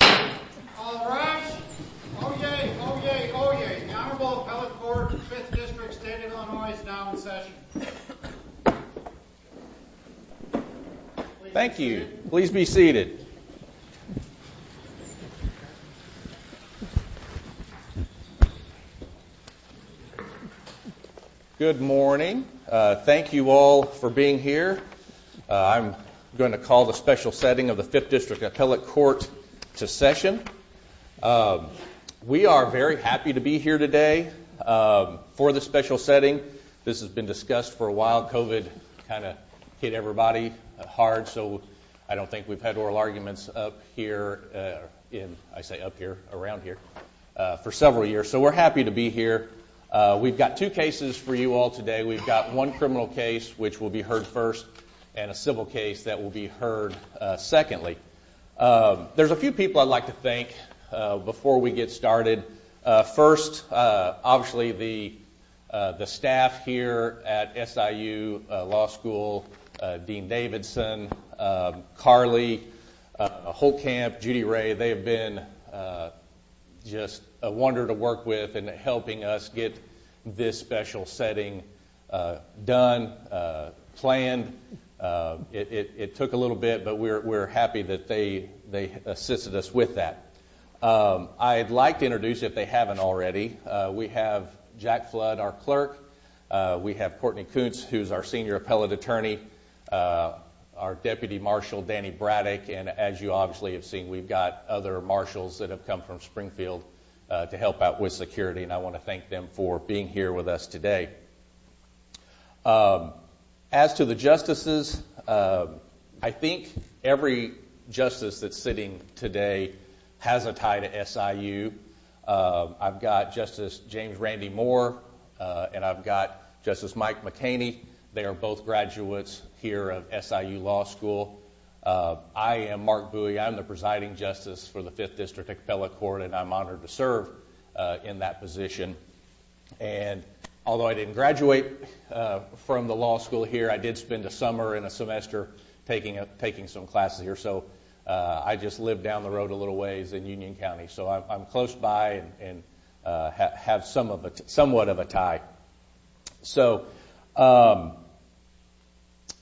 All right. Oh, yay. Oh, yay. Oh, yay. The Honorable Appellate Court of the 5th District of Stanton, Illinois is now in session. Thank you. Please be seated. Good morning. Thank you all for being here. I'm going to call the special setting of the 5th District Appellate Court to session. We are very happy to be here today for the special setting. This has been discussed for a while. COVID kind of hit everybody hard, so I don't think we've had oral arguments up here, I say up here, around here, for several years. So we're happy to be here. We've got two cases for you all today. We've got one criminal case, which will be heard first, and a civil case that will be heard secondly. There's a few people I'd like to thank before we get started. First, obviously, the staff here at SIU Law School, Dean Davidson, Carly, Holtkamp, Judy Ray, they've been just a wonder to work with in helping us get this special setting done, planned. It took a little bit, but we're happy that they assisted us with that. I'd like to introduce, if they haven't already, we have Jack Flood, our clerk, we have Courtney Coots, who's our senior appellate attorney, our deputy marshal, Danny Braddock, and as you obviously have seen, we've got other marshals that have come from Springfield to help out with security, and I want to thank them for being here with us today. As to the justices, I think every justice that's sitting today has a tie to SIU. I've got Justice James Randy Moore, and I've got Justice Mike McHaney. They are both graduates here of SIU Law School. I am Mark Bowie. I'm the presiding justice for the Fifth District Appellate Court, and I'm honored to serve in that position. Although I didn't graduate from the law school here, I did spend a summer and a semester taking some classes here, so I just lived down the road a little ways in Union County, so I'm close by and have somewhat of a tie.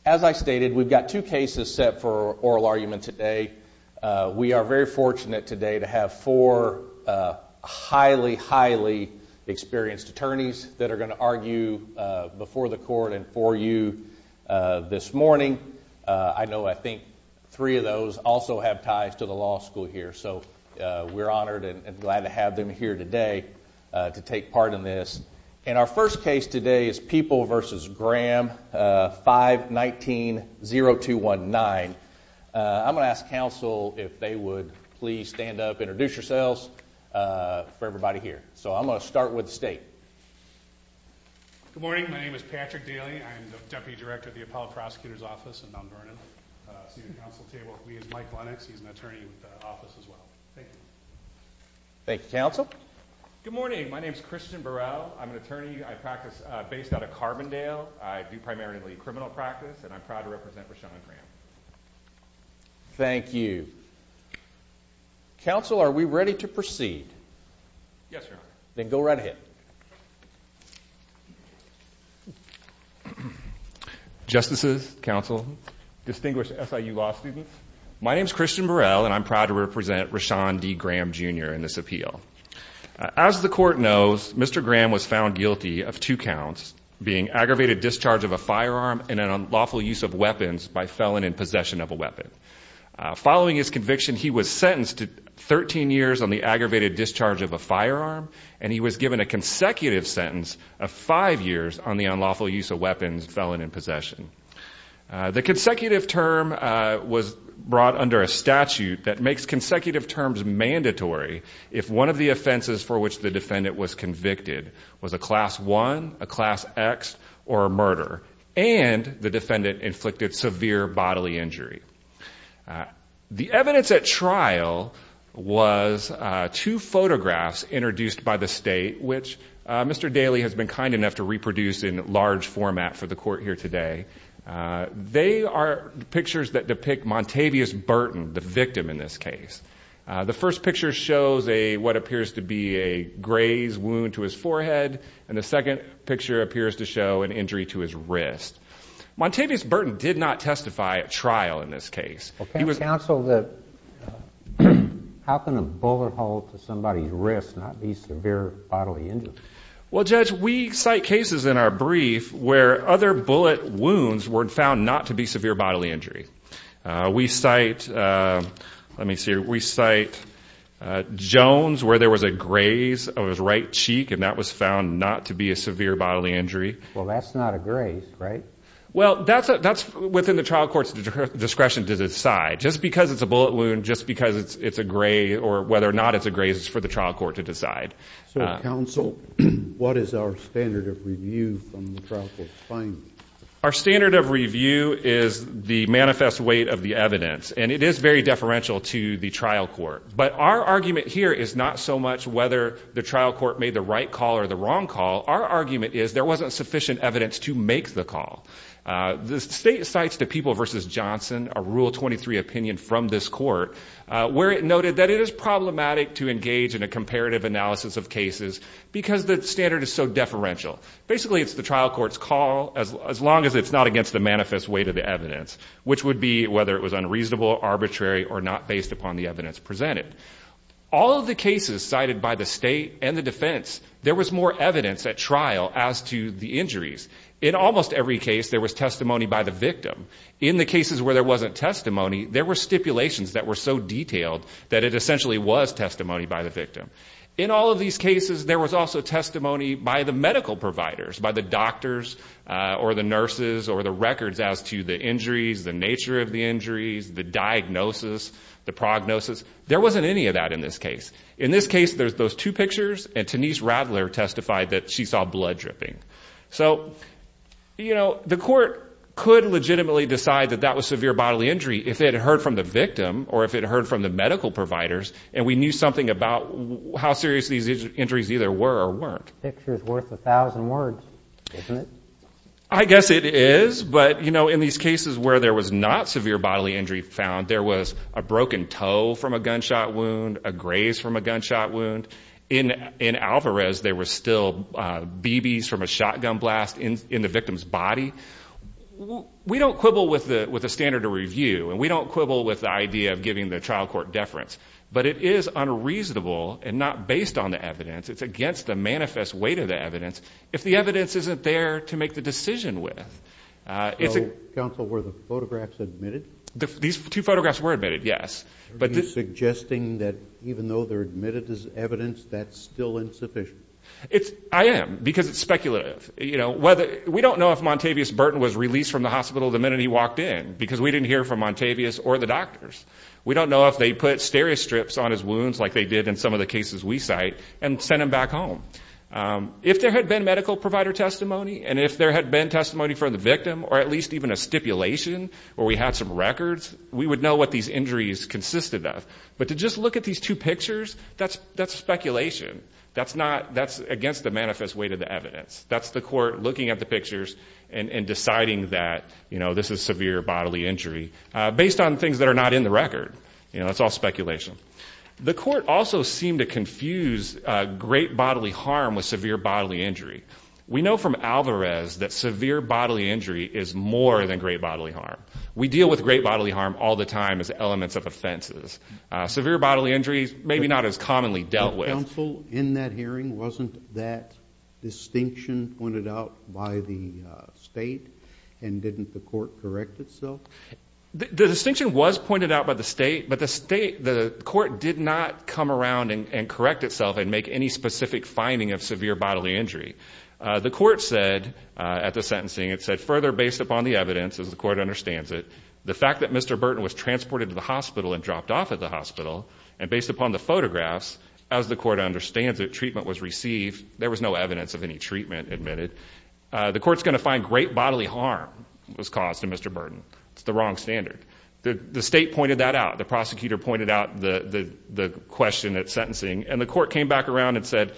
As I stated, we've got two cases set for oral argument today. We are very fortunate today to have four highly, highly experienced attorneys that are going to argue before the court and for you this morning. I know I think three of those also have ties to the law school here, so we're honored and glad to have them here today to take part in this. Our first case today is People v. Graham 519-0219. I'm going to ask counsel if they would please stand up, introduce yourselves for everybody here. So I'm going to start with the state. Good morning. My name is Patrick Daly. I'm the deputy director of the Appellate Prosecutor's Office in Mount Vernon. Seated at the council table with me is Mike Lennox. He's an attorney with the office as well. Thank you. Thank you, counsel. Good morning. My name is Christian Burrell. I'm an attorney. I practice based out of Carbondale. I do primarily criminal practice, and I'm proud to represent Rashawn Graham. Thank you. Counsel, are we ready to proceed? Yes, Your Honor. Then go right ahead. Justices, counsel, distinguished SIU law students, my name is Christian Burrell, and I'm proud to represent Rashawn D. Graham Jr. in this appeal. As the court knows, Mr. Graham was found guilty of two counts, being aggravated discharge of a firearm and an unlawful use of weapons by felon in possession of a weapon. Following his conviction, he was sentenced to 13 years on the aggravated discharge of a firearm, and he was given a consecutive sentence of five years on the unlawful use of weapons felon in possession. The consecutive term was brought under a statute that makes consecutive terms mandatory if one of the offenses for which the defendant was convicted was a Class I, a Class X, or a murder, and the defendant inflicted severe bodily injury. The evidence at trial was two photographs introduced by the state, which Mr. Daley has been kind enough to reproduce in large format for the court here today. They are pictures that depict Montavious Burton, the victim in this case. The first picture shows what appears to be a grazed wound to his forehead, and the second picture appears to show an injury to his wrist. Montavious Burton did not testify at trial in this case. Counsel, how can a bullet hold to somebody's wrist not be severe bodily injury? Well, Judge, we cite cases in our brief where other bullet wounds were found not to be severe bodily injury. We cite, let me see here, we cite Jones where there was a graze of his right cheek, and that was found not to be a severe bodily injury. Well, that's not a graze, right? Well, that's within the trial court's discretion to decide. Just because it's a bullet wound, just because it's a graze, or whether or not it's a graze, it's for the trial court to decide. Counsel, what is our standard of review from the trial court's findings? Our standard of review is the manifest weight of the evidence, and it is very deferential to the trial court. But our argument here is not so much whether the trial court made the right call or the wrong call. Our argument is there wasn't sufficient evidence to make the call. The state cites the People v. Johnson, a Rule 23 opinion from this court, where it noted that it is problematic to engage in a comparative analysis of cases because the standard is so deferential. Basically, it's the trial court's call as long as it's not against the manifest weight of the evidence, which would be whether it was unreasonable, arbitrary, or not based upon the evidence presented. All of the cases cited by the state and the defense, there was more evidence at trial as to the injuries. In almost every case, there was testimony by the victim. In the cases where there wasn't testimony, there were stipulations that were so detailed that it essentially was testimony by the victim. In all of these cases, there was also testimony by the medical providers, by the doctors or the nurses or the records as to the injuries, the nature of the injuries, the diagnosis, the prognosis. There wasn't any of that in this case. In this case, there's those two pictures, and Tenise Radler testified that she saw blood dripping. So, you know, the court could legitimately decide that that was severe bodily injury if it heard from the victim or if it heard from the medical providers and we knew something about how serious these injuries either were or weren't. The picture is worth a thousand words, isn't it? I guess it is, but, you know, in these cases where there was not severe bodily injury found, there was a broken toe from a gunshot wound, a graze from a gunshot wound. In Alvarez, there were still BBs from a shotgun blast in the victim's body. We don't quibble with the standard of review, and we don't quibble with the idea of giving the trial court deference, but it is unreasonable and not based on the evidence. It's against the manifest weight of the evidence if the evidence isn't there to make the decision with. So, counsel, were the photographs admitted? These two photographs were admitted, yes. Are you suggesting that even though they're admitted as evidence, that's still insufficient? I am, because it's speculative. You know, we don't know if Montavious Burton was released from the hospital the minute he walked in because we didn't hear from Montavious or the doctors. We don't know if they put stereo strips on his wounds like they did in some of the cases we cite and sent him back home. If there had been medical provider testimony and if there had been testimony from the victim or at least even a stipulation where we had some records, we would know what these injuries consisted of. But to just look at these two pictures, that's speculation. That's against the manifest weight of the evidence. That's the court looking at the pictures and deciding that, you know, this is severe bodily injury based on things that are not in the record. You know, that's all speculation. The court also seemed to confuse great bodily harm with severe bodily injury. We know from Alvarez that severe bodily injury is more than great bodily harm. We deal with great bodily harm all the time as elements of offenses. Severe bodily injury is maybe not as commonly dealt with. The counsel in that hearing, wasn't that distinction pointed out by the state? And didn't the court correct itself? The distinction was pointed out by the state, but the court did not come around and correct itself and make any specific finding of severe bodily injury. The court said at the sentencing, it said, further based upon the evidence, as the court understands it, the fact that Mr. Burton was transported to the hospital and dropped off at the hospital, and based upon the photographs, as the court understands it, treatment was received. There was no evidence of any treatment admitted. The court's going to find great bodily harm was caused to Mr. Burton. It's the wrong standard. The state pointed that out. The prosecutor pointed out the question at sentencing. And the court came back around and said,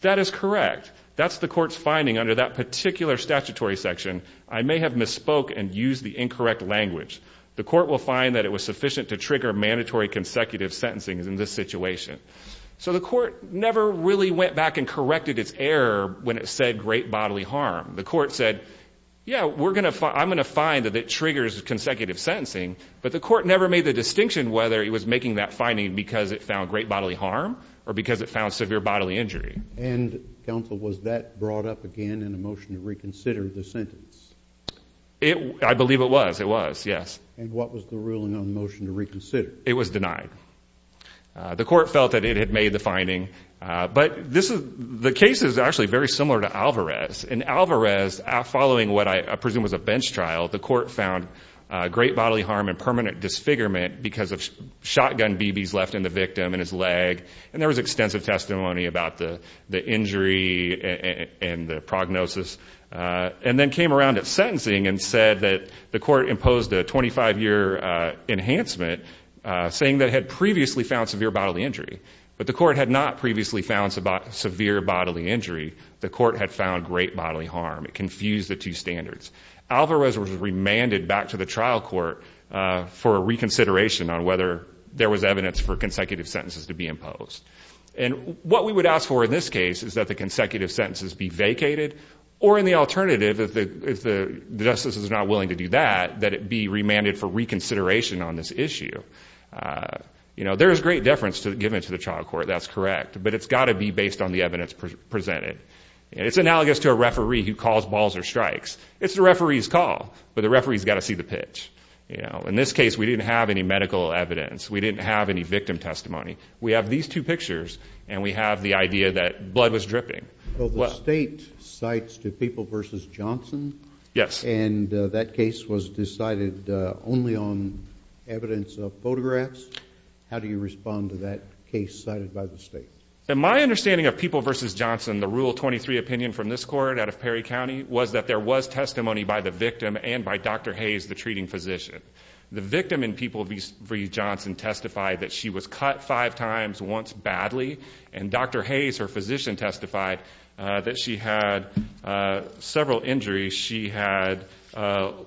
that is correct. But the court's finding under that particular statutory section, I may have misspoke and used the incorrect language. The court will find that it was sufficient to trigger mandatory consecutive sentencing in this situation. So the court never really went back and corrected its error when it said great bodily harm. The court said, yeah, I'm going to find that it triggers consecutive sentencing. But the court never made the distinction whether it was making that finding because it found great bodily harm or because it found severe bodily injury. And, counsel, was that brought up again in the motion to reconsider the sentence? I believe it was. It was, yes. And what was the ruling on the motion to reconsider? It was denied. The court felt that it had made the finding. But the case is actually very similar to Alvarez. In Alvarez, following what I presume was a bench trial, the court found great bodily harm and permanent disfigurement because of shotgun BBs left in the victim and his leg. And there was extensive testimony about the injury and the prognosis. And then came around to sentencing and said that the court imposed a 25-year enhancement saying that it had previously found severe bodily injury. But the court had not previously found severe bodily injury. The court had found great bodily harm. It confused the two standards. Alvarez was remanded back to the trial court for reconsideration on whether there was evidence for consecutive sentences to be imposed. And what we would ask for in this case is that the consecutive sentences be vacated or, in the alternative, if the justice is not willing to do that, that it be remanded for reconsideration on this issue. You know, there is great deference given to the trial court. That's correct. But it's got to be based on the evidence presented. And it's analogous to a referee who calls balls or strikes. It's the referee's call, but the referee's got to see the pitch. You know, in this case, we didn't have any medical evidence. We didn't have any victim testimony. We have these two pictures, and we have the idea that blood was dripping. Well, the state cites to People v. Johnson. Yes. And that case was decided only on evidence of photographs. How do you respond to that case cited by the state? In my understanding of People v. Johnson, the Rule 23 opinion from this court out of Perry County was that there was testimony by the victim and by Dr. Hayes, the treating physician. The victim in People v. Johnson testified that she was cut five times, once badly. And Dr. Hayes, her physician, testified that she had several injuries. She had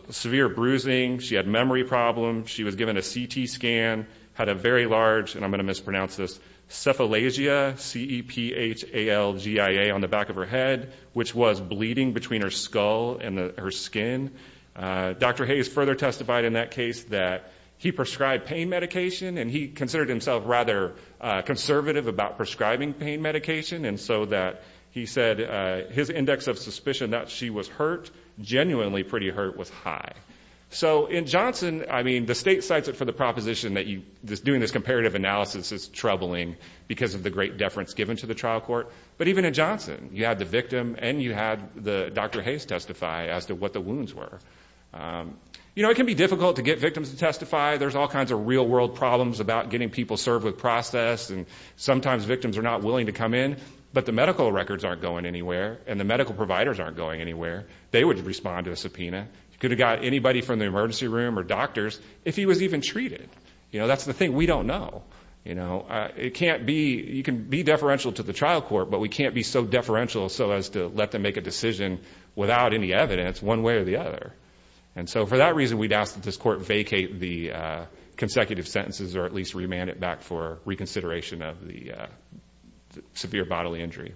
severe bruising. She had memory problems. She was given a CT scan, had a very large, and I'm going to mispronounce this, cephalagia, C-E-P-H-A-L-G-I-A, on the back of her head, which was bleeding between her skull and her skin. Dr. Hayes further testified in that case that he prescribed pain medication, and he considered himself rather conservative about prescribing pain medication, and so that he said his index of suspicion that she was hurt, genuinely pretty hurt, was high. So in Johnson, I mean, the state cites it for the proposition that doing this comparative analysis is troubling because of the great deference given to the trial court. But even in Johnson, you had the victim and you had Dr. Hayes testify as to what the wounds were. You know, it can be difficult to get victims to testify. There's all kinds of real-world problems about getting people served with process, and sometimes victims are not willing to come in. But the medical records aren't going anywhere, and the medical providers aren't going anywhere. They would respond to a subpoena. You could have got anybody from the emergency room or doctors if he was even treated. You know, that's the thing we don't know. You know, it can't be, you can be deferential to the trial court, but we can't be so deferential so as to let them make a decision without any evidence one way or the other. And so for that reason, we'd ask that this court vacate the consecutive sentences or at least remand it back for reconsideration of the severe bodily injury.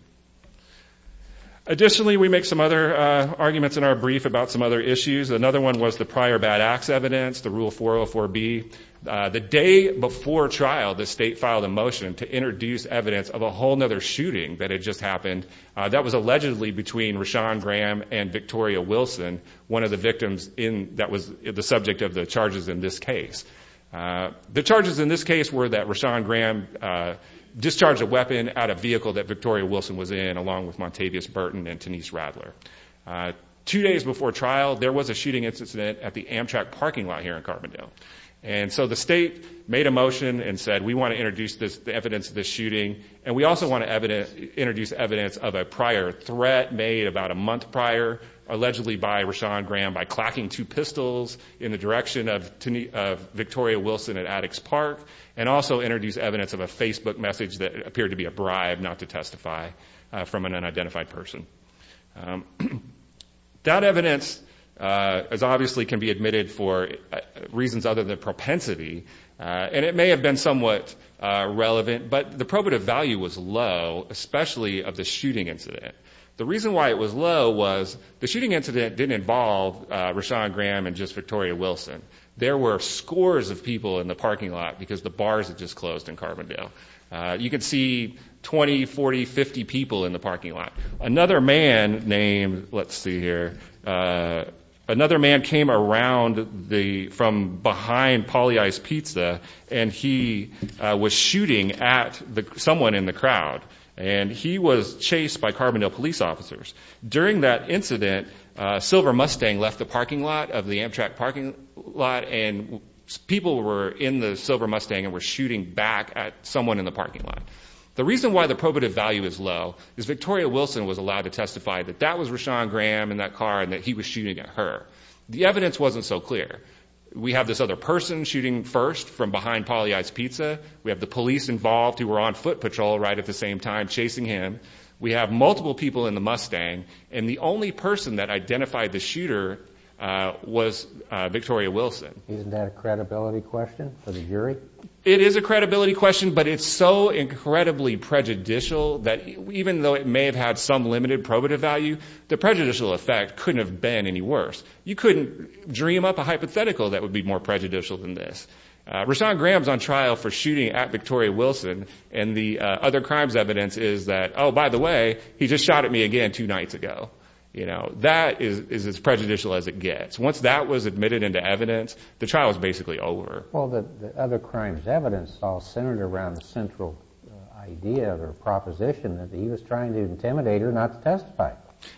Additionally, we make some other arguments in our brief about some other issues. Another one was the prior bad acts evidence, the Rule 404B. The day before trial, the state filed a motion to introduce evidence of a whole other shooting that had just happened that was allegedly between Rashawn Graham and Victoria Wilson, one of the victims in, that was the subject of the charges in this case. The charges in this case were that Rashawn Graham discharged a weapon out of a vehicle that Victoria Wilson was in along with Montavious Burton and Denise Radler. Two days before trial, there was a shooting incident at the Amtrak parking lot here in Carbondale. And so the state made a motion and said, we want to introduce the evidence of this shooting, and we also want to introduce evidence of a prior threat made about a month prior, allegedly by Rashawn Graham by clacking two pistols in the direction of Victoria Wilson at Attucks Park, and also introduce evidence of a Facebook message that appeared to be a bribe not to testify from an unidentified person. That evidence, as obviously, can be admitted for reasons other than propensity, and it may have been somewhat relevant, but the probative value was low, especially of the shooting incident. The reason why it was low was the shooting incident didn't involve Rashawn Graham and just Victoria Wilson. There were scores of people in the parking lot because the bars had just closed in Carbondale. You could see 20, 40, 50 people in the parking lot. Another man named, let's see here, another man came around from behind Polly Ice Pizza, and he was shooting at someone in the crowd, and he was chased by Carbondale police officers. During that incident, Silver Mustang left the parking lot of the Amtrak parking lot, and people were in the Silver Mustang and were shooting back at someone in the parking lot. The reason why the probative value is low is Victoria Wilson was allowed to testify that that was Rashawn Graham in that car and that he was shooting at her. The evidence wasn't so clear. We have this other person shooting first from behind Polly Ice Pizza. We have the police involved who were on foot patrol right at the same time chasing him. We have multiple people in the Mustang, and the only person that identified the shooter was Victoria Wilson. Isn't that a credibility question for the jury? It is a credibility question, but it's so incredibly prejudicial that even though it may have had some limited probative value, the prejudicial effect couldn't have been any worse. You couldn't dream up a hypothetical that would be more prejudicial than this. Rashawn Graham's on trial for shooting at Victoria Wilson, and the other crime's evidence is that, oh, by the way, he just shot at me again two nights ago. That is as prejudicial as it gets. Once that was admitted into evidence, the trial was basically over. Well, the other crime's evidence all centered around the central idea or proposition that he was trying to intimidate her not to testify.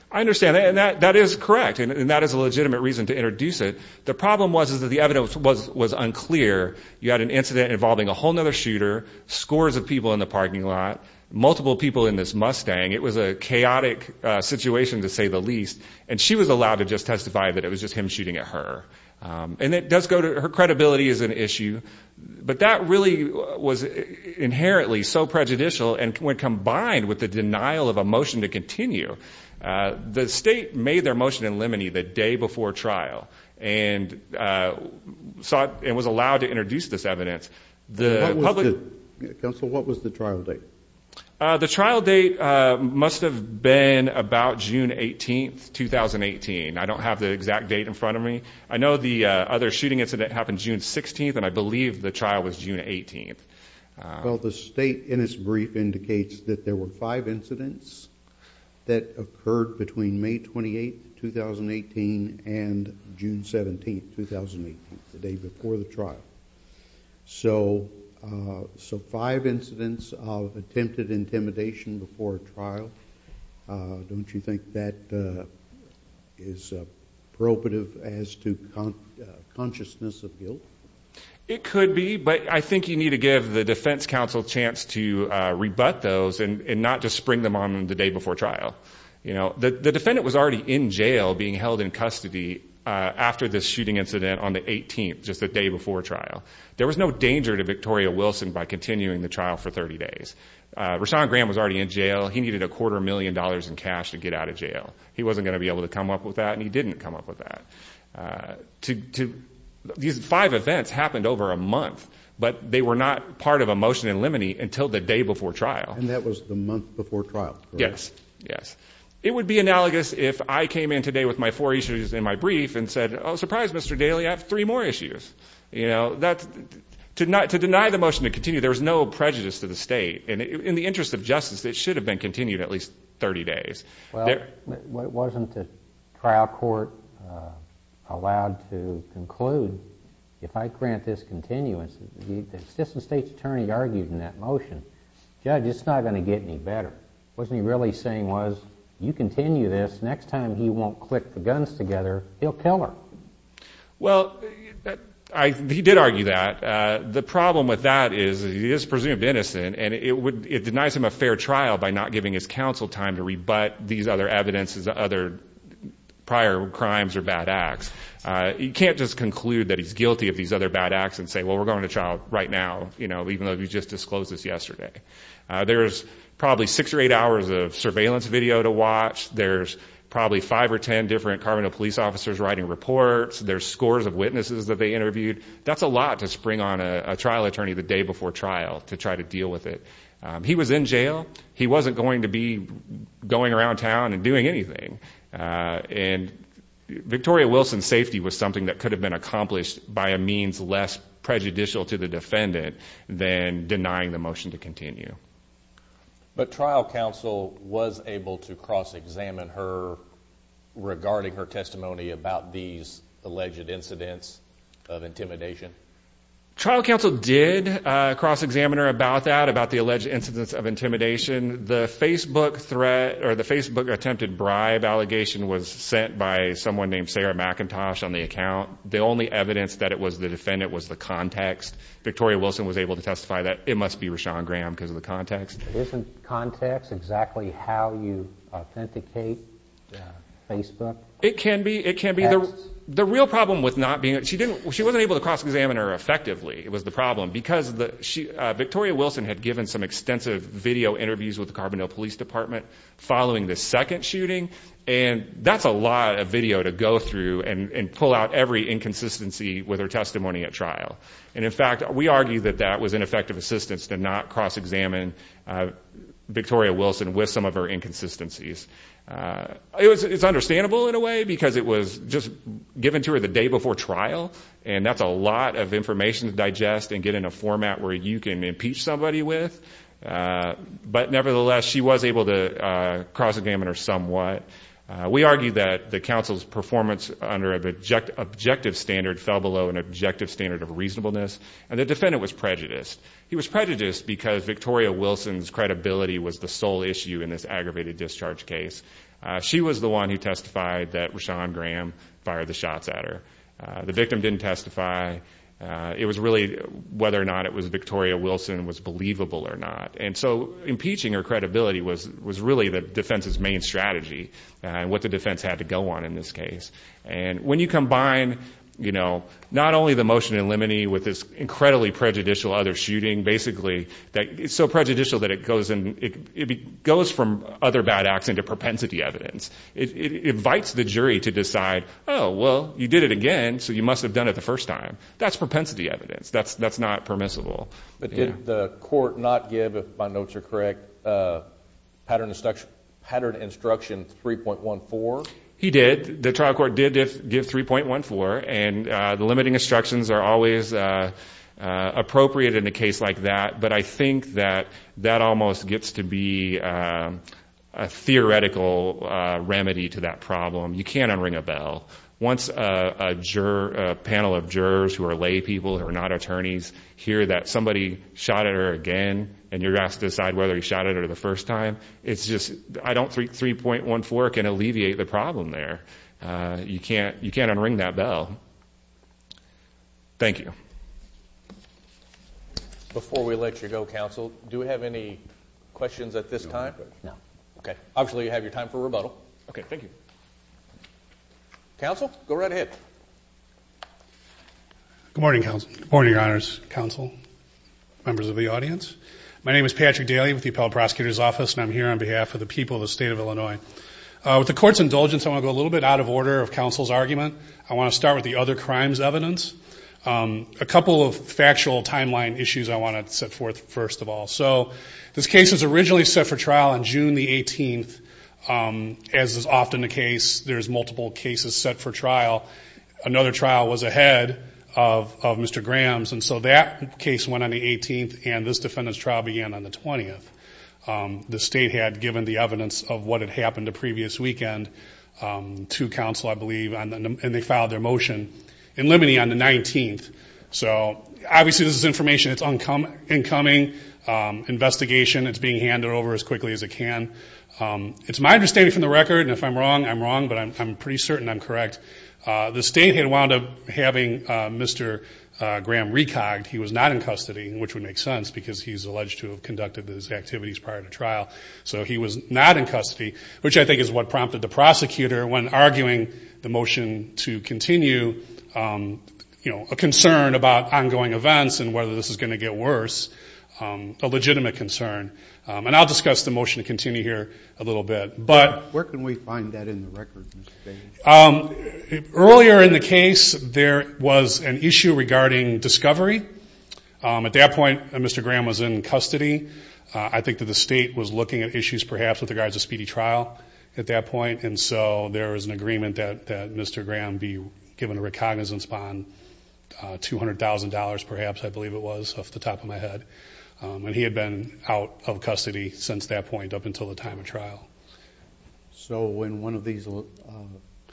I understand, and that is correct, and that is a legitimate reason to introduce it. The problem was that the evidence was unclear. You had an incident involving a whole other shooter, scores of people in the parking lot, multiple people in this Mustang. It was a chaotic situation to say the least, and she was allowed to just testify that it was just him shooting at her. Her credibility is an issue, but that really was inherently so prejudicial, and when combined with the denial of a motion to continue, the state made their motion in limine the day before trial and was allowed to introduce this evidence, the public... Counsel, what was the trial date? The trial date must have been about June 18, 2018. I don't have the exact date in front of me. I know the other shooting incident happened June 16, and I believe the trial was June 18. Well, the state, in its brief, indicates that there were five incidents that occurred between May 28, 2018 and June 17, 2018, the day before the trial. So five incidents of attempted intimidation before a trial, don't you think that is probative as to consciousness of guilt? It could be, but I think you need to give the defense counsel a chance to rebut those and not just spring them on the day before trial. The defendant was already in jail being held in custody after this shooting incident on the 18th, just the day before trial. There was no danger to Victoria Wilson by continuing the trial for 30 days. Rashawn Graham was already in jail. He needed a quarter million dollars in cash to get out of jail. He wasn't going to be able to come up with that, and he didn't come up with that. These five events happened over a month, but they were not part of a motion in limine until the day before trial. And that was the month before trial. Yes, yes. It would be analogous if I came in today with my four issues in my brief and said, oh, surprise, Mr. Daly, I have three more issues. You know, to deny the motion to continue, there's no prejudice to the state. In the interest of justice, it should have been continued at least 30 days. Well, wasn't the trial court allowed to conclude, if I grant this continuance, the assistant state's attorney argued in that motion, judge, it's not going to get any better. Wasn't he really saying, you continue this, next time he won't click the guns together, he'll kill her. Well, he did argue that. The problem with that is he is presumed innocent, and it denies him a fair trial by not giving his counsel time to rebut these other evidences, other prior crimes or bad acts. You can't just conclude that he's guilty of these other bad acts and say, well, I'm going to release my child right now, even though you just disclosed this yesterday. There's probably six or eight hours of surveillance video to watch. There's probably five or 10 different Carbondale police officers writing reports. There's scores of witnesses that they interviewed. That's a lot to spring on a trial attorney the day before trial to try to deal with it. He was in jail. He wasn't going to be going around town and doing anything. And Victoria Wilson's safety was something that could have been accomplished by a means less prejudicial to the defendant than denying the motion to continue. But trial counsel was able to cross-examine her regarding her testimony about these alleged incidents of intimidation? Trial counsel did cross-examine her about that, about the alleged incidents of intimidation. The Facebook threat, or the Facebook attempted bribe allegation was sent by someone named Sarah McIntosh on the account. The only evidence that it was the defendant was the context. Victoria Wilson was able to testify that it must be Rashawn Graham because of the context. Isn't context exactly how you authenticate Facebook? It can be, it can be. The real problem with not being, she wasn't able to cross-examine her effectively was the problem because Victoria Wilson had given some extensive video interviews with the Carbondale Police Department following the second shooting. And that's a lot of video to go through and pull out every inconsistency with her testimony at trial. And in fact, we argue that that was ineffective assistance to not cross-examine Victoria Wilson with some of her inconsistencies. It's understandable in a way because it was just given to her the day before trial and that's a lot of information to digest and get in a format where you can impeach somebody with. But nevertheless, she was able to cross-examine her somewhat. We argue that the counsel's performance under an objective standard fell below an objective standard of reasonableness. And the defendant was prejudiced. He was prejudiced because Victoria Wilson's credibility was the sole issue in this aggravated discharge case. She was the one who testified that Rashawn Graham fired the shots at her. The victim didn't testify. It was really whether or not it was Victoria Wilson was believable or not. And so impeaching her credibility was really the defense's main strategy and what the defense had to go on in this case. And when you combine, you know, not only the motion in limine with this incredibly prejudicial other shooting, basically, it's so prejudicial that it goes from other bad acts into propensity evidence. It invites the jury to decide, oh, well, you did it again, so you must have done it the first time. That's propensity evidence. That's not permissible. But did the court not give, if my notes are correct, pattern instruction 3.14? He did. He did give 3.14. And the limiting instructions are always appropriate in a case like that. But I think that that almost gets to be a theoretical remedy to that problem. You can't unring a bell. Once a panel of jurors who are lay people who are not attorneys hear that somebody shot at her again and you're asked to decide whether you shot at her the first time, it's just, I don't think 3.14 can work and alleviate the problem there. You can't unring that bell. Thank you. Before we let you go, counsel, do we have any questions at this time? No. Okay. Obviously, you have your time for rebuttal. Okay, thank you. Counsel, go right ahead. Good morning, counsel. Good morning, your honors, counsel, members of the audience. My name is Patrick Daly with the Appellate Prosecutor's Office and I'm here on behalf of the people of the state of Illinois. With the court's indulgence, I want to go a little bit out of order of counsel's argument. I want to start with the other crimes evidence. A couple of factual timeline issues I want to set forth first of all. So this case was originally set for trial on June the 18th. As is often the case, there's multiple cases set for trial. Another trial was ahead of Mr. Graham's and so that case went on the 18th The state had given the evidence of what had happened the previous weekend to counsel, I believe, and they filed their motion in Liminy on the 19th. So obviously, this is information that's incoming, investigation. It's being handed over as quickly as it can. It's my understanding from the record, and if I'm wrong, I'm wrong, but I'm pretty certain I'm correct. The state had wound up having Mr. Graham recogged. He was not in custody, which would make sense because he's alleged to have conducted his activities prior to trial. So he was not in custody, which I think is what prompted the prosecutor when arguing the motion to continue, you know, a concern about ongoing events and whether this is going to get worse, a legitimate concern. And I'll discuss the motion to continue here a little bit, but... Where can we find that in the record? Earlier in the case, there was an issue regarding discovery. At that point, Mr. Graham was in custody I think that the state was looking at issues perhaps with regards to speedy trial at that point, and so there was an agreement that Mr. Graham be given a recognizance bond, $200,000 perhaps, I believe it was, off the top of my head. And he had been out of custody since that point up until the time of trial. So in one of these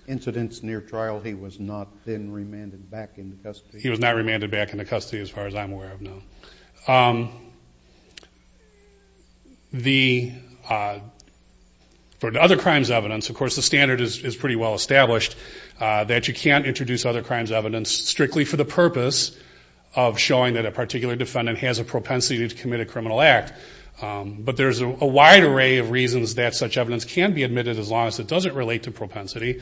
incidents near trial, he was not then remanded back into custody? He was not remanded back into custody as far as I'm aware of, no. The... For other crimes evidence, of course, the standard is pretty well established that you can't introduce other crimes evidence strictly for the purpose of showing that a particular defendant has a propensity to commit a criminal act. But there's a wide array of reasons that such evidence can be admitted as long as it doesn't relate to propensity.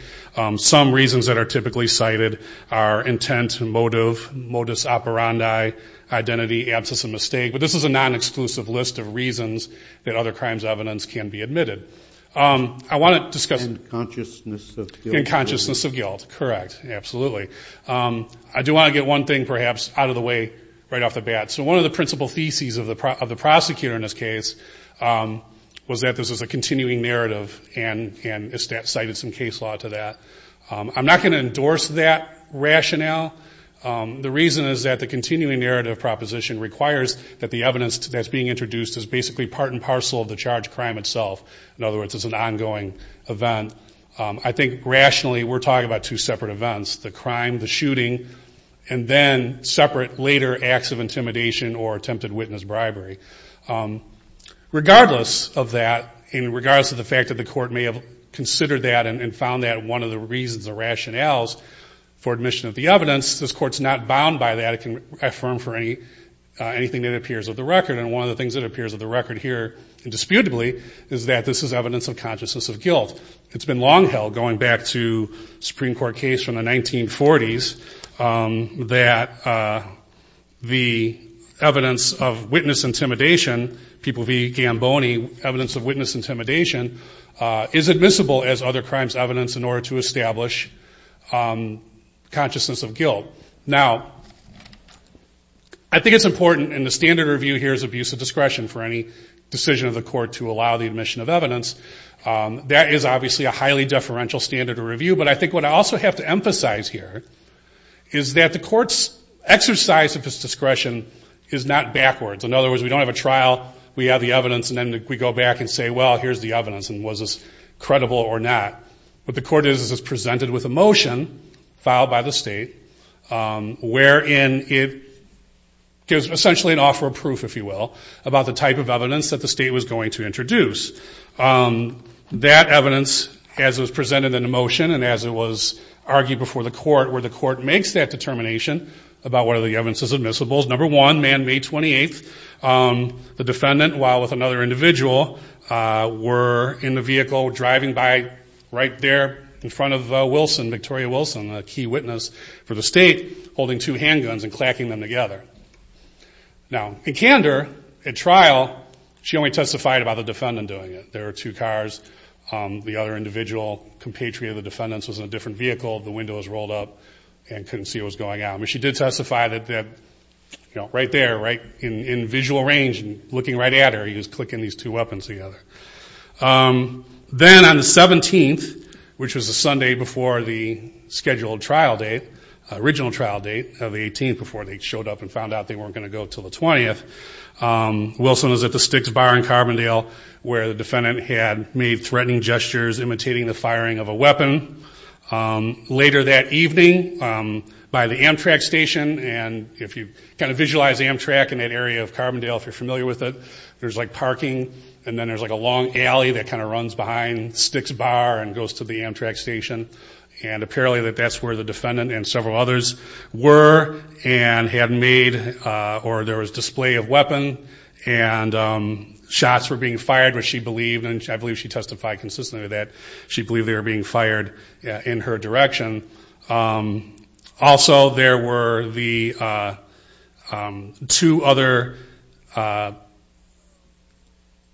Some reasons that are typically cited are intent, motive, modus operandi, identity, absence of mistake. But this is a non-exclusive list of reasons that other crimes evidence can be admitted. I want to discuss... And consciousness of guilt. And consciousness of guilt, correct. Absolutely. I do want to get one thing perhaps out of the way right off the bat. So one of the principal theses of the prosecutor in this case was that this was a continuing narrative and cited some case law to that. I'm not going to endorse that rationale. The reason is that the continuing narrative proposition that the evidence that's being introduced is basically part and parcel of the charged crime itself. In other words, it's an ongoing event. I think rationally, we're talking about two separate events. The crime, the shooting, and then separate later acts of intimidation or attempted witness bribery. Regardless of that, and regardless of the fact that the court may have considered that and found that one of the reasons or rationales for admission of the evidence, this court's not bound by that. This is evidence of the record. And one of the things that appears of the record here indisputably is that this is evidence of consciousness of guilt. It's been long held going back to Supreme Court case from the 1940s that the evidence of witness intimidation, people v. Gamboni, evidence of witness intimidation is admissible as other crimes evidence in order to establish consciousness of guilt. Now, I think it's important to review here's abuse of discretion for any decision of the court to allow the admission of evidence. That is obviously a highly deferential standard of review, but I think what I also have to emphasize here is that the court's exercise of its discretion is not backwards. In other words, we don't have a trial, we have the evidence, and then we go back and say, well, here's the evidence, and was this credible or not? What the court does is it's presented with a motion if you will, about the type of evidence that the state was going to introduce. That evidence, as it was presented in a motion and as it was argued before the court where the court makes that determination about whether the evidence is admissible, number one, man May 28th, the defendant, while with another individual, were in the vehicle driving by right there in front of Wilson, Victoria Wilson, a key witness for the state, holding two handguns and clacking them together. Now, in candor, at trial, she only testified about the defendant doing it. There were two cars. The other individual, compatriot of the defendant, was in a different vehicle. The window was rolled up and couldn't see what was going on. But she did testify that right there, in visual range, looking right at her, at the scheduled trial date, original trial date of the 18th before they showed up and found out they weren't going to go until the 20th. Wilson was at the Sticks Bar in Carbondale where the defendant had made threatening gestures imitating the firing of a weapon. Later that evening, by the Amtrak station, and if you kind of visualize Amtrak in that area of Carbondale, if you're familiar with it, there's like parking and then there's like a long alley that kind of runs behind Sticks Bar and that's where the defendant and several others were and had made, or there was display of weapon and shots were being fired which she believed, and I believe she testified consistently that she believed they were being fired in her direction. Also, there were the two other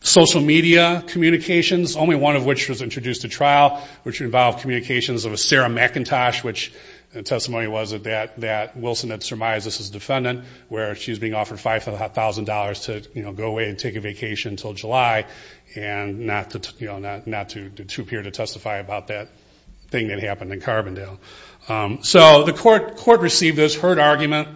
social media communications, only one of which was introduced to trial, which involved communications of a Sarah McIntosh, which the testimony was that Wilson had surmised this as a defendant where she's being offered $5,000 to go away and take a vacation until July and not to appear to testify about that thing that happened in Carbondale. So the court received this, heard argument,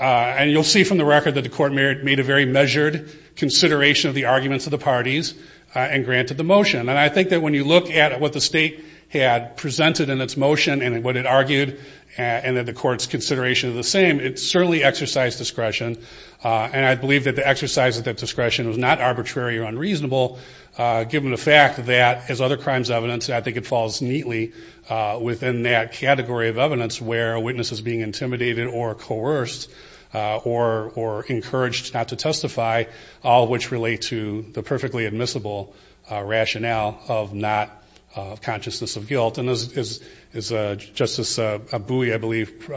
and you'll see from the record that the court made a very measured consideration of the arguments of the parties and granted the motion. And I think that when you look at what the state had presented in its motion and what it argued and that the court's consideration is the same, it certainly exercised discretion and I believe that the exercise of that discretion was not arbitrary or unreasonable given the fact that, as other crimes evidence, I think it falls neatly within that category of evidence where a witness is being intimidated or coerced or encouraged not to testify, all of which relate to the perfectly admissible rationale of consciousness of guilt. And as Justice Bouie, I believe,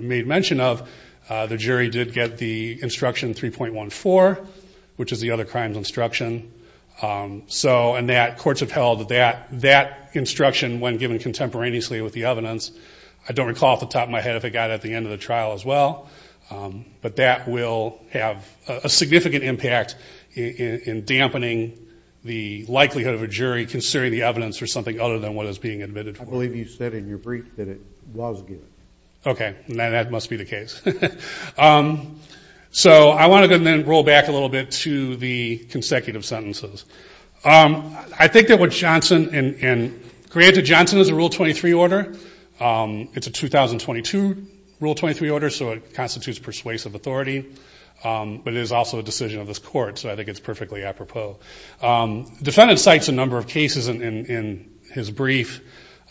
made mention of, the jury did get the instruction 3.14, which is the other crimes instruction. So courts have held that instruction when given contemporaneously with the evidence. I don't recall off the top of my head if it got at the end of the trial as well, but that will have a significant impact in dampening the likelihood of a jury doing something other than what is being admitted for. I believe you said in your brief that it was good. Okay, that must be the case. So I want to then roll back a little bit to the consecutive sentences. I think that what Johnson, and granted Johnson is a Rule 23 order, it's a 2022 Rule 23 order, so it constitutes persuasive authority, but it is also a decision of this court, so I think it's perfectly apropos. Defendant cites a number of cases in his brief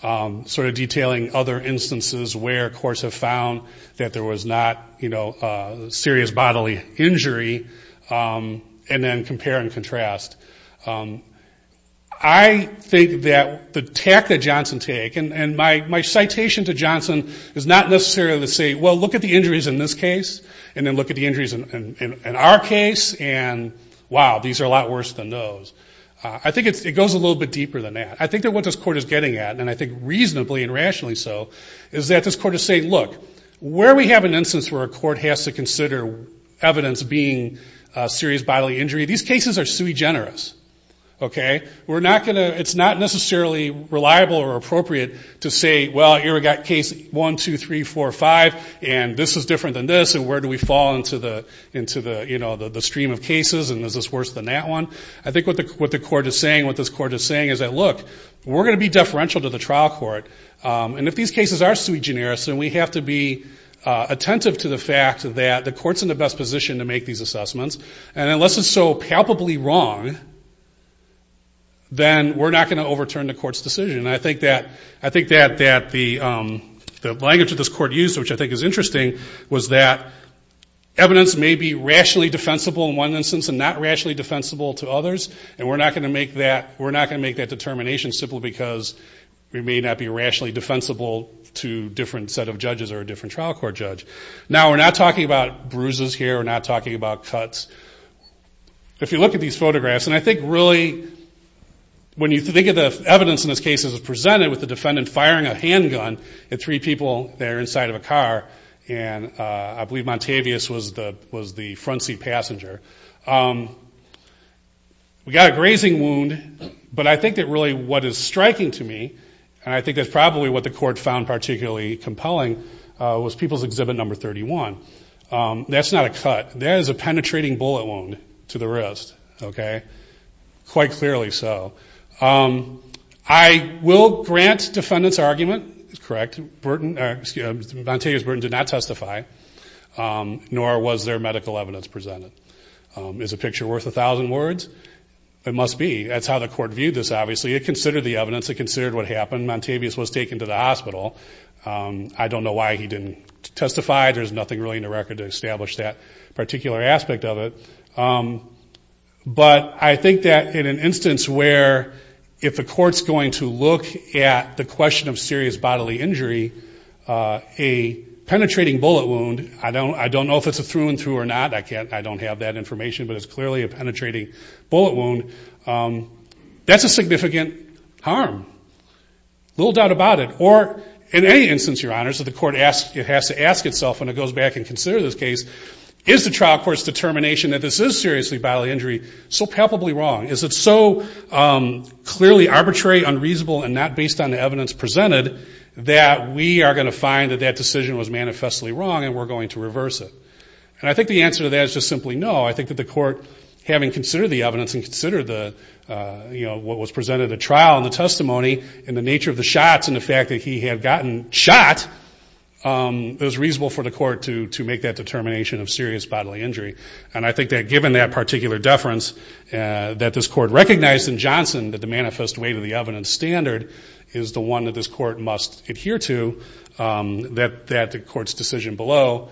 sort of detailing other instances where courts have found that there was not serious bodily injury, and then compare and contrast. I think that the tact that Johnson takes, and my citation to Johnson is not necessarily to say, well, look at the injuries in this case, and then look at the injuries and wow, these are a lot worse than those. I think it goes a little bit deeper than that. I think that what this court is getting at, and I think reasonably and rationally so, is that this court is saying, look, where we have an instance where a court has to consider evidence being serious bodily injury, these cases are sui generis, okay? We're not going to, it's not necessarily reliable or appropriate to say, well, here we got case one, two, three, four, five, and this is different than this, and where do we fall into the stream of cases, and is this worse than that one? I think what the court is saying, what this court is saying is that, look, we're going to be deferential to the trial court, and if these cases are sui generis, then we have to be attentive to the fact that the court's in the best position to make these assessments, and unless it's so palpably wrong, then we're not going to overturn the court's decision. I think that the language that this court used, which I think is interesting, was that evidence may be rationally defensible in one instance and not rationally defensible to others, and we're not going to make that, we're not going to make that determination simply because we may not be rationally defensible to a different set of judges or a different trial court judge. Now, we're not talking about bruises here. We're not talking about cuts. If you look at these photographs, and I think really, when you think of the evidence in this case as presented with the defendant firing a handgun at three people that are inside of a car, and I believe Montavious was the front seat passenger, we got a grazing wound, but I think that really what is striking to me, and I think that's probably what the court found particularly compelling, was people's exhibit number 31. That's not a cut. That is a penetrating bullet wound to the wrist. Okay? Quite clearly so. I will grant defendant's argument is correct. Montavious Burton did not testify, nor was there medical evidence presented. Is a picture worth a thousand words? It must be. That's how the court viewed this, obviously. It considered the evidence. It considered what happened. Montavious was taken to the hospital. I don't know why he didn't testify. There's nothing really in the record to establish that particular aspect of it, but I think that in an instance where if the court's going to look at the question of serious bodily injury, a penetrating bullet wound, I don't know if it's a through and through or not. I don't have that information, but it's clearly a penetrating bullet wound. That's a significant harm. Little doubt about it. Or in any instance, your honors, if the court has to ask itself when it goes back and considers this case, is the trial court's determination that this is seriously bodily injury so palpably wrong? Is it so clearly arbitrary, unreasonable, and not based on the evidence presented that we are going to find that that decision was manifestly wrong and we're going to reverse it? The answer to that is just simply no. I think that the court, having considered the evidence and considered what was presented at trial and the testimony and the nature of the shots and the fact that he had gotten shot, it was reasonable for the court to make that determination of serious bodily injury. And I think that given that particular deference that this court recognized in Johnson that the manifest weight of the evidence standard is the one that this court must adhere to, that the court's decision below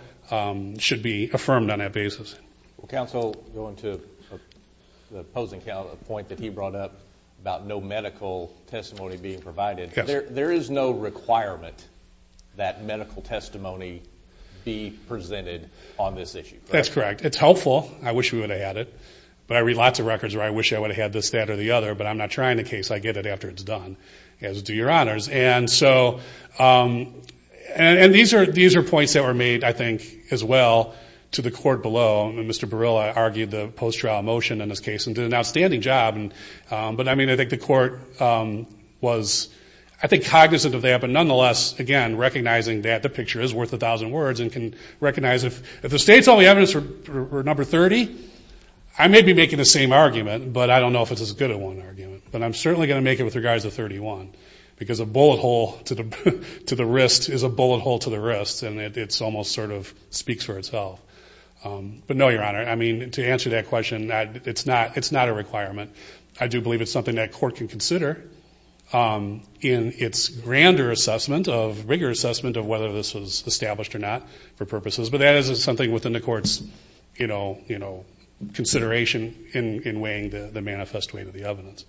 should be affirmed on that basis. Well, counsel, going to the opposing point that he brought up about no medical testimony being provided, there is no requirement that medical testimony be presented on this issue. That's correct. It's helpful. I wish we would have had it, but I read lots of records where I wish I would have had this, that, or the other, but I'm not trying the case. I get it after it's done, as do your honors. And these are points that were made, I think, as well to the court below and Mr. Barilla argued the post-trial motion in this case and did an outstanding job. But, I mean, I think the court was, I think, cognizant of that, but nonetheless, again, recognizing that the picture is worth a thousand words and can recognize if the state's only evidence were number 30, I may be making the same argument, but I don't know if it's as good a one argument. But I'm certainly going to make it with regards to 31 because a bullet hole to the wrist is a bullet hole to the wrist and it almost sort of speaks for itself. I don't know, your honor. I mean, to answer that question, it's not a requirement. I do believe it's something that court can consider in its grander assessment, of rigor assessment, of whether this was established or not for purposes. But that is something within the court's, you know, consideration in weighing the manifest weight of the evidence.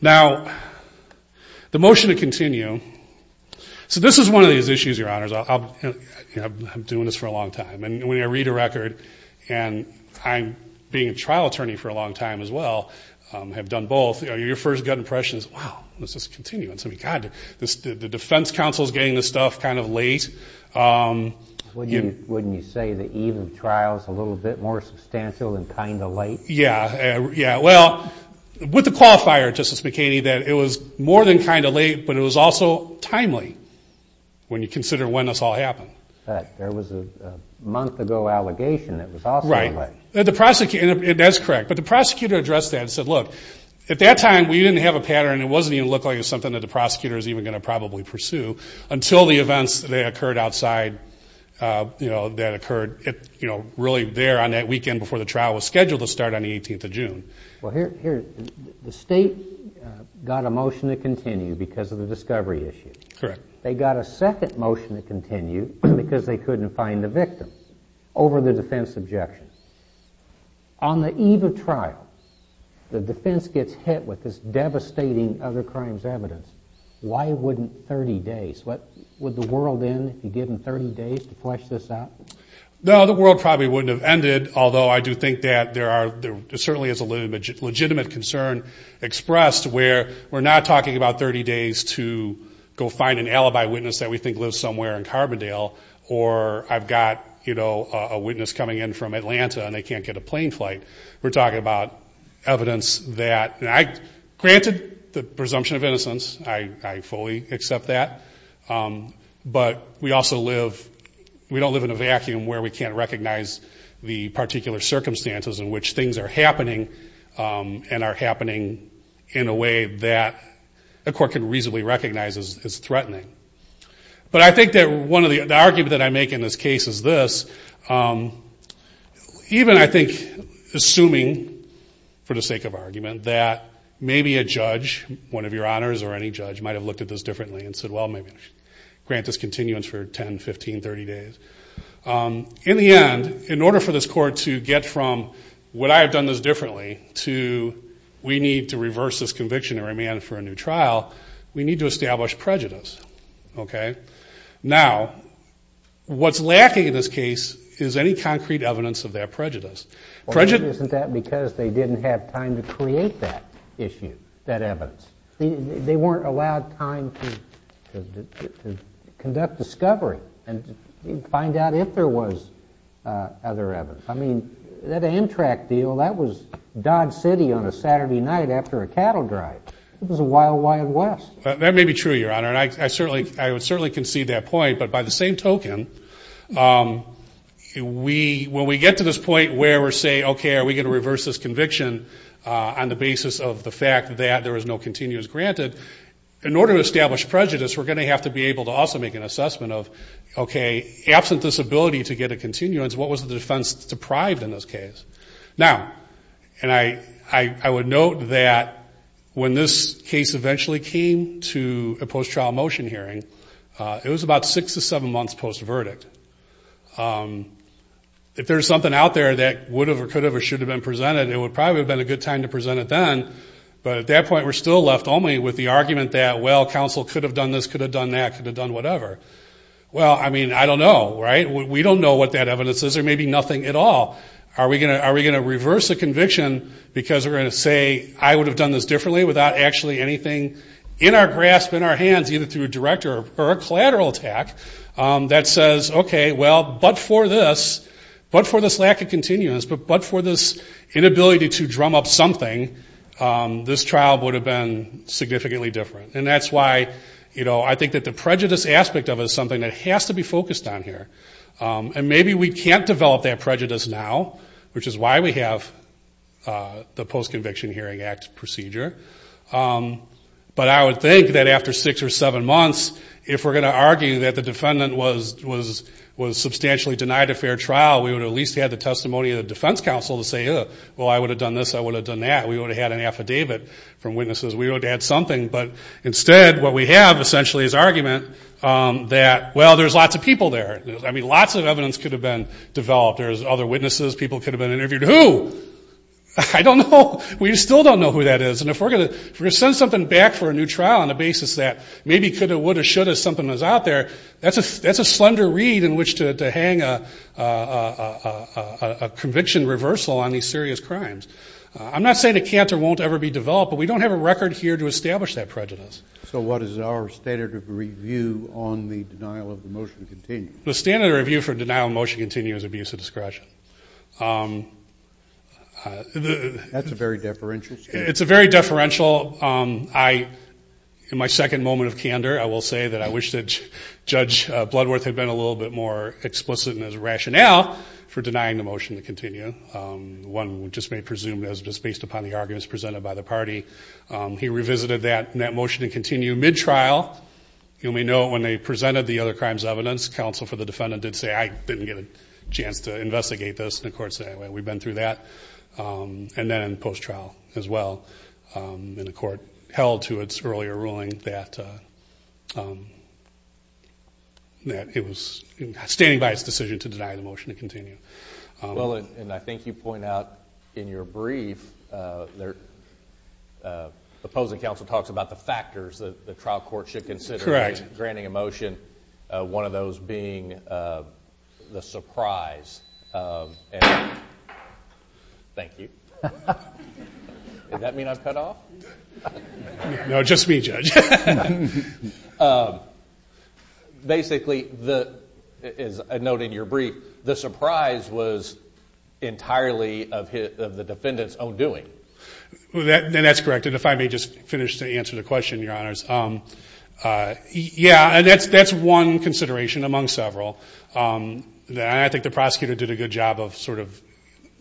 Now, the motion to continue. So this is one of these issues, your honors. I'm doing this for a long time. And when I read a record and I'm being a trial attorney for a long time as well, have done both, your first gut impression is, wow, let's just continue. And to me, God, the defense counsel is getting this stuff kind of late. Wouldn't you say the eve of trial is a little bit more substantial than kind of late? Yeah. Well, with the qualifier, Justice McKinney, that it was more than kind of late, but it was also timely when you consider when this all happened. But there was a month ago allegation that was also late. Right. That's correct. But the prosecutor addressed that and said, look, at that time, we didn't have a pattern. It wasn't even looking like it was something that the prosecutor was even going to probably pursue until the events that occurred outside, you know, that occurred, you know, really there on that weekend before the trial was scheduled to start on the 18th of June. Well, the state got a motion to continue and they got a second motion to continue because they couldn't find the victim over the defense objection. On the eve of trial, the defense gets hit with this devastating other crimes evidence. Why wouldn't 30 days? Would the world end if you gave them 30 days to flesh this out? No, the world probably wouldn't have ended, although I do think that there are, there certainly is a legitimate concern expressed where we're not talking about 30 days to go find an alibi witness that we think lives somewhere in Carbondale or I've got, you know, a witness coming in from Atlanta and they can't get a plane flight. We're talking about evidence that, granted, the presumption of innocence. I fully accept that. But we also live, we don't live in a vacuum where we can't recognize the particular circumstances in which things are happening and are happening in a way that a court can reasonably recognize as threatening. But I think that one of the, the argument that I make in this case is this. Even, I think, assuming, for the sake of argument, that maybe a judge, one of your honors or any judge, might have looked at this differently and said, well, maybe grant this continuance for 10, 15, 30 days. In the end, in order for this court to get from what I have done this differently to we need to reverse this conviction and remand it for a new trial, we need to establish prejudice. Okay? Now, what's lacking in this case is any concrete evidence of that prejudice. Prejudice... Isn't that because they didn't have time to create that issue, that evidence? They weren't allowed time to conduct discovery and find out if there was other evidence. I mean, that Amtrak deal, that was Dodge City on a Saturday night after a cattle drive. It was a wild, wild west. That may be true, Your Honor, and I certainly, I would certainly concede that point, but by the same token, we, when we get to this point where we're saying, okay, are we going to reverse this conviction on the basis of the fact that there is no continuance granted, in order to establish prejudice, we're going to have to be able to also make an assessment of, okay, absent this ability to get a continuance, what was the defense deprived in this case? Now, and I, I would note that when this case eventually came to a post-trial motion hearing, it was about six to seven months post-verdict. If there's something out there that would have or could have or should have been presented, it would probably have been a good time to present it then, but at that point, we're still left only with the argument that, well, counsel could have done this, could have done that, could have done whatever. Well, I mean, I don't know, right? We don't know what that evidence is. There may be nothing at all. Are we going to, because we're going to say, I would have done this differently without actually anything in our grasp, in our hands, either through a direct or a collateral attack that says, okay, well, but for this, but for this lack of continuance, but for this inability to drum up something, this trial would have been significantly different, and that's why, you know, I think that the prejudice aspect of it is something that has to be focused on here, and maybe we can't develop that prejudice now, which is why we have the Post-Conviction Hearing Act procedure, but I would think that after six or seven months, if we're going to argue that the defendant was substantially denied a fair trial, we would at least have the testimony of the defense counsel to say, well, I would have done this, I would have done that. We would have had an affidavit from witnesses. We would have had something, but instead, what we have essentially is argument that, well, there's lots of people there. I mean, lots of evidence could have been developed. There's other witnesses. People could have been interviewed. Who? I don't know. We still don't know who that is, and if we're going to send something back for a new trial on the basis that maybe could have, would have, should have, something that's out there, that's a slender reed in which to hang a conviction reversal on these serious crimes. I'm not saying a canter won't ever be developed, but we don't have a record here to establish that prejudice. So what is our standard of review on the denial of the motion to continue? The standard of review for denial of motion to continue is abuse of discretion. That's a very deferential statement. It's a very deferential. I, in my second moment of candor, I will say that I wish that Judge Bloodworth had been a little bit more explicit in his rationale for denying the motion to continue. One just may presume that it was based upon the arguments presented by the party. He revisited that motion to continue mid-trial. You may know when they presented the other crimes evidence, counsel for the defendant did say, I didn't get a chance to investigate this. And the court said, anyway, we've been through that. And then in post-trial as well, the court held to its earlier ruling that it was standing by its decision to deny the motion to continue. and I think you point out in your brief that the opposing counsel talks about the factors that the trial court should consider granting a motion to deny the motion to continue. Correct. And I think one of those being the surprise of... Thank you. Did that mean I've cut off? No, just me, Judge. Basically, as I note in your brief, the surprise was entirely defendant's own doing. And that's correct. And if I may just finish to answer the question, Your Honors. Yeah, that's one of the considerations among several. And I think the prosecutor did a good job of sort of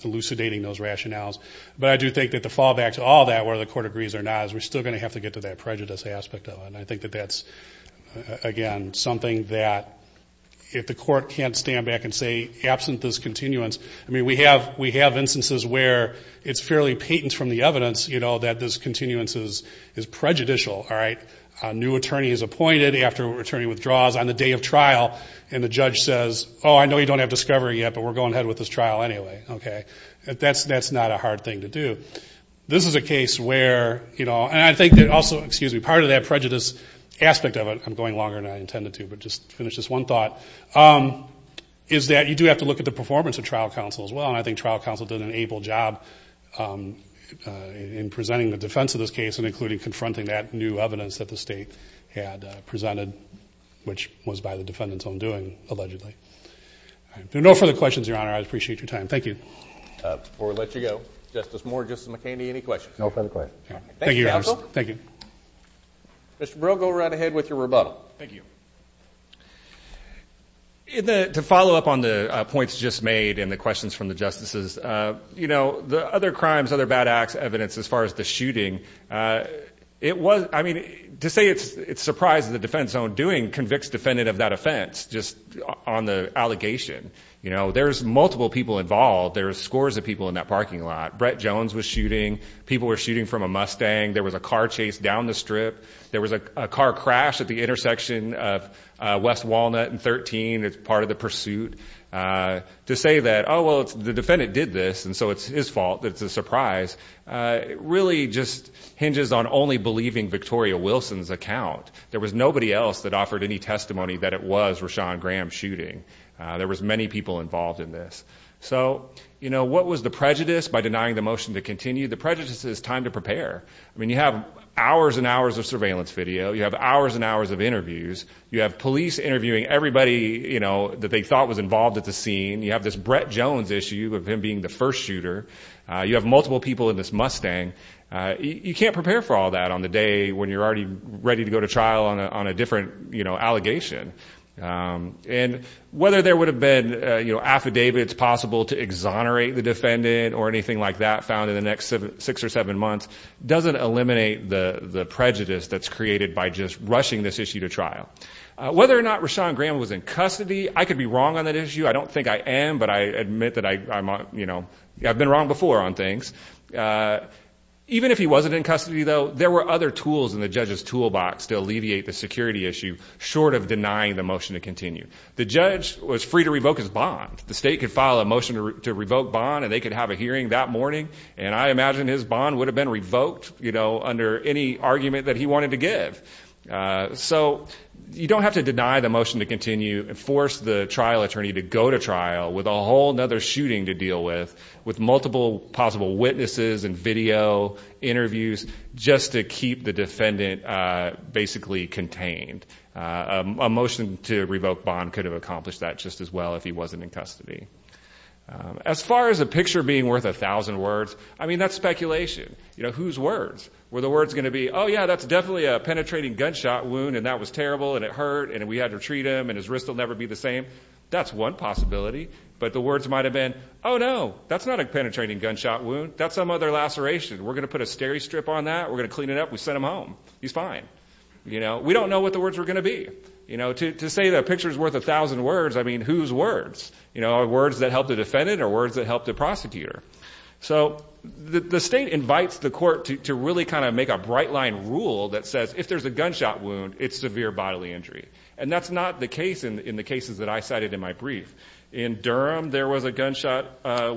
elucidating those rationales. But I do think that the fallback to all that whether the court agrees or not is we're still going to have to get to that prejudice aspect of it. And I think that that's again, something that if the court can't stand back and say absent this continuance, I mean, we have instances where it's fairly patent from the evidence that this continuance is prejudicial. All right? A new attorney is appointed after an attorney withdraws on the day of trial and the judge says, oh, I know you don't have discovery yet, but we're going ahead with this trial anyway. Okay? That's not a hard thing to do. This is a case where and I think that also, excuse me, part of that prejudice aspect of it, I'm going longer than I intended to, but just finish this one thought, is that you do have to look at the performance of trial counsel as well. And I think trial counsel did an able job in presenting the defense of this case and including confronting that new evidence that the state had presented, which was by the defendant's own doing allegedly. No further questions, Your Honor. I appreciate your time. Thank you. Before we let you go, Justice Moore, Justice McKinney, any questions? No further questions. Thank you, Your Honor. Thank you. Mr. Brill, go right ahead with your rebuttal. Thank you. To follow up on the points just made and the questions from the jury, really important to say that there is multiple people involved. Brett Jones was shooting. People were shooting from a Mustang. There was a car crash at the intersection of West Walnut and 13. It's part of the pursuit. The defendant did this. It's his fault. It's a surprise. It hinges on only believing Victoria Wilson's account. There was nobody else that offered testimony that it was Rashawn Graham shooting. What was the question? multiple people involved. You have multiple people in this Mustang. You can't prepare for that on the day when you're ready to go to trial. Whether there would have been affidavits to exonerate the defendant doesn't eliminate the prejudice that's created. Whether or not Rashawn Graham was in custody, I could be wrong on that issue. Even if he wasn't in custody, there were other tools to alleviate the security issue. The judge was free to revoke his bond. I imagine his bond would have been revoked under any circumstances. You don't have to deny the motion to continue and force the trial attorney to go to trial with multiple witnesses and video interviews just to keep the defendant contained. A motion to revoke bond could have accomplished that as well. As far as a picture being worth a thousand words, that's speculation. Whose words? Oh, yeah, that's definitely a penetrating gunshot wound and we had to treat him and his wrist will never be the same. That's one possibility. Oh, no, that's not a penetrating gunshot wound. We're going to clean it up and send him home. He's fine. We don't know what the words were going to be. To say a picture is worth a thousand words, whose words? Words that help the defendant or the prosecutor? The state invites the court to make a bright line rule that says if there's a gunshot wound it's severe bodily injury. In Durham there was a gunshot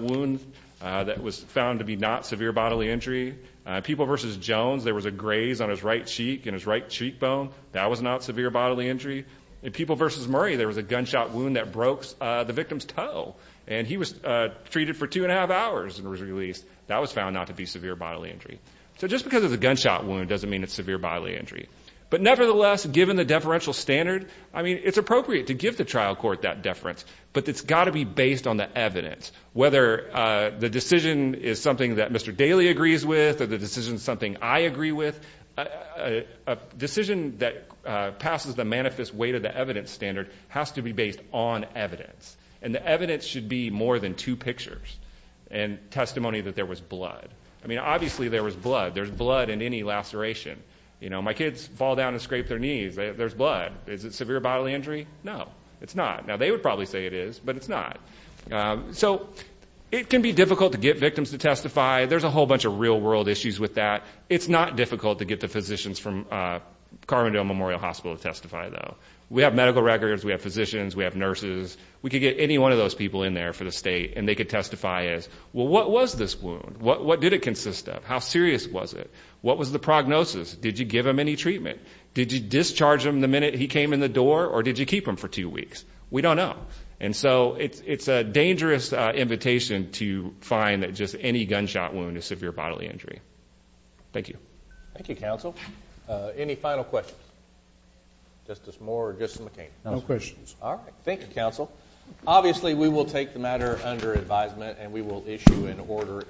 wound found to be not severe bodily injury. In people versus Murray there was a gunshot wound that broke the victim's toe. That was found not to be severe bodily injury. Just because it's a gunshot wound doesn't mean it's severe bodily injury. It's appropriate to give the evidence standard. The evidence should be more than two pictures and testimony that there was blood. Obviously there was blood. My kids fall down and scrape their knees. Is it severe bodily injury? No. They would probably say it is but it's not. It can be difficult to get victims to testify. It's not difficult to get the physicians to testify. We have medical records, physicians, nurses. We can get anyone in there for the state. What did it consist of? What was the prognosis? Did you discharge him the minute he came in the door? We don't know. It's a mystery. Thank you. Thank you, counsel. Any final questions? Justice Moore or Justice McCain? No questions. All right. Thank you, counsel. Obviously we will take the matter under advisement and we will issue an order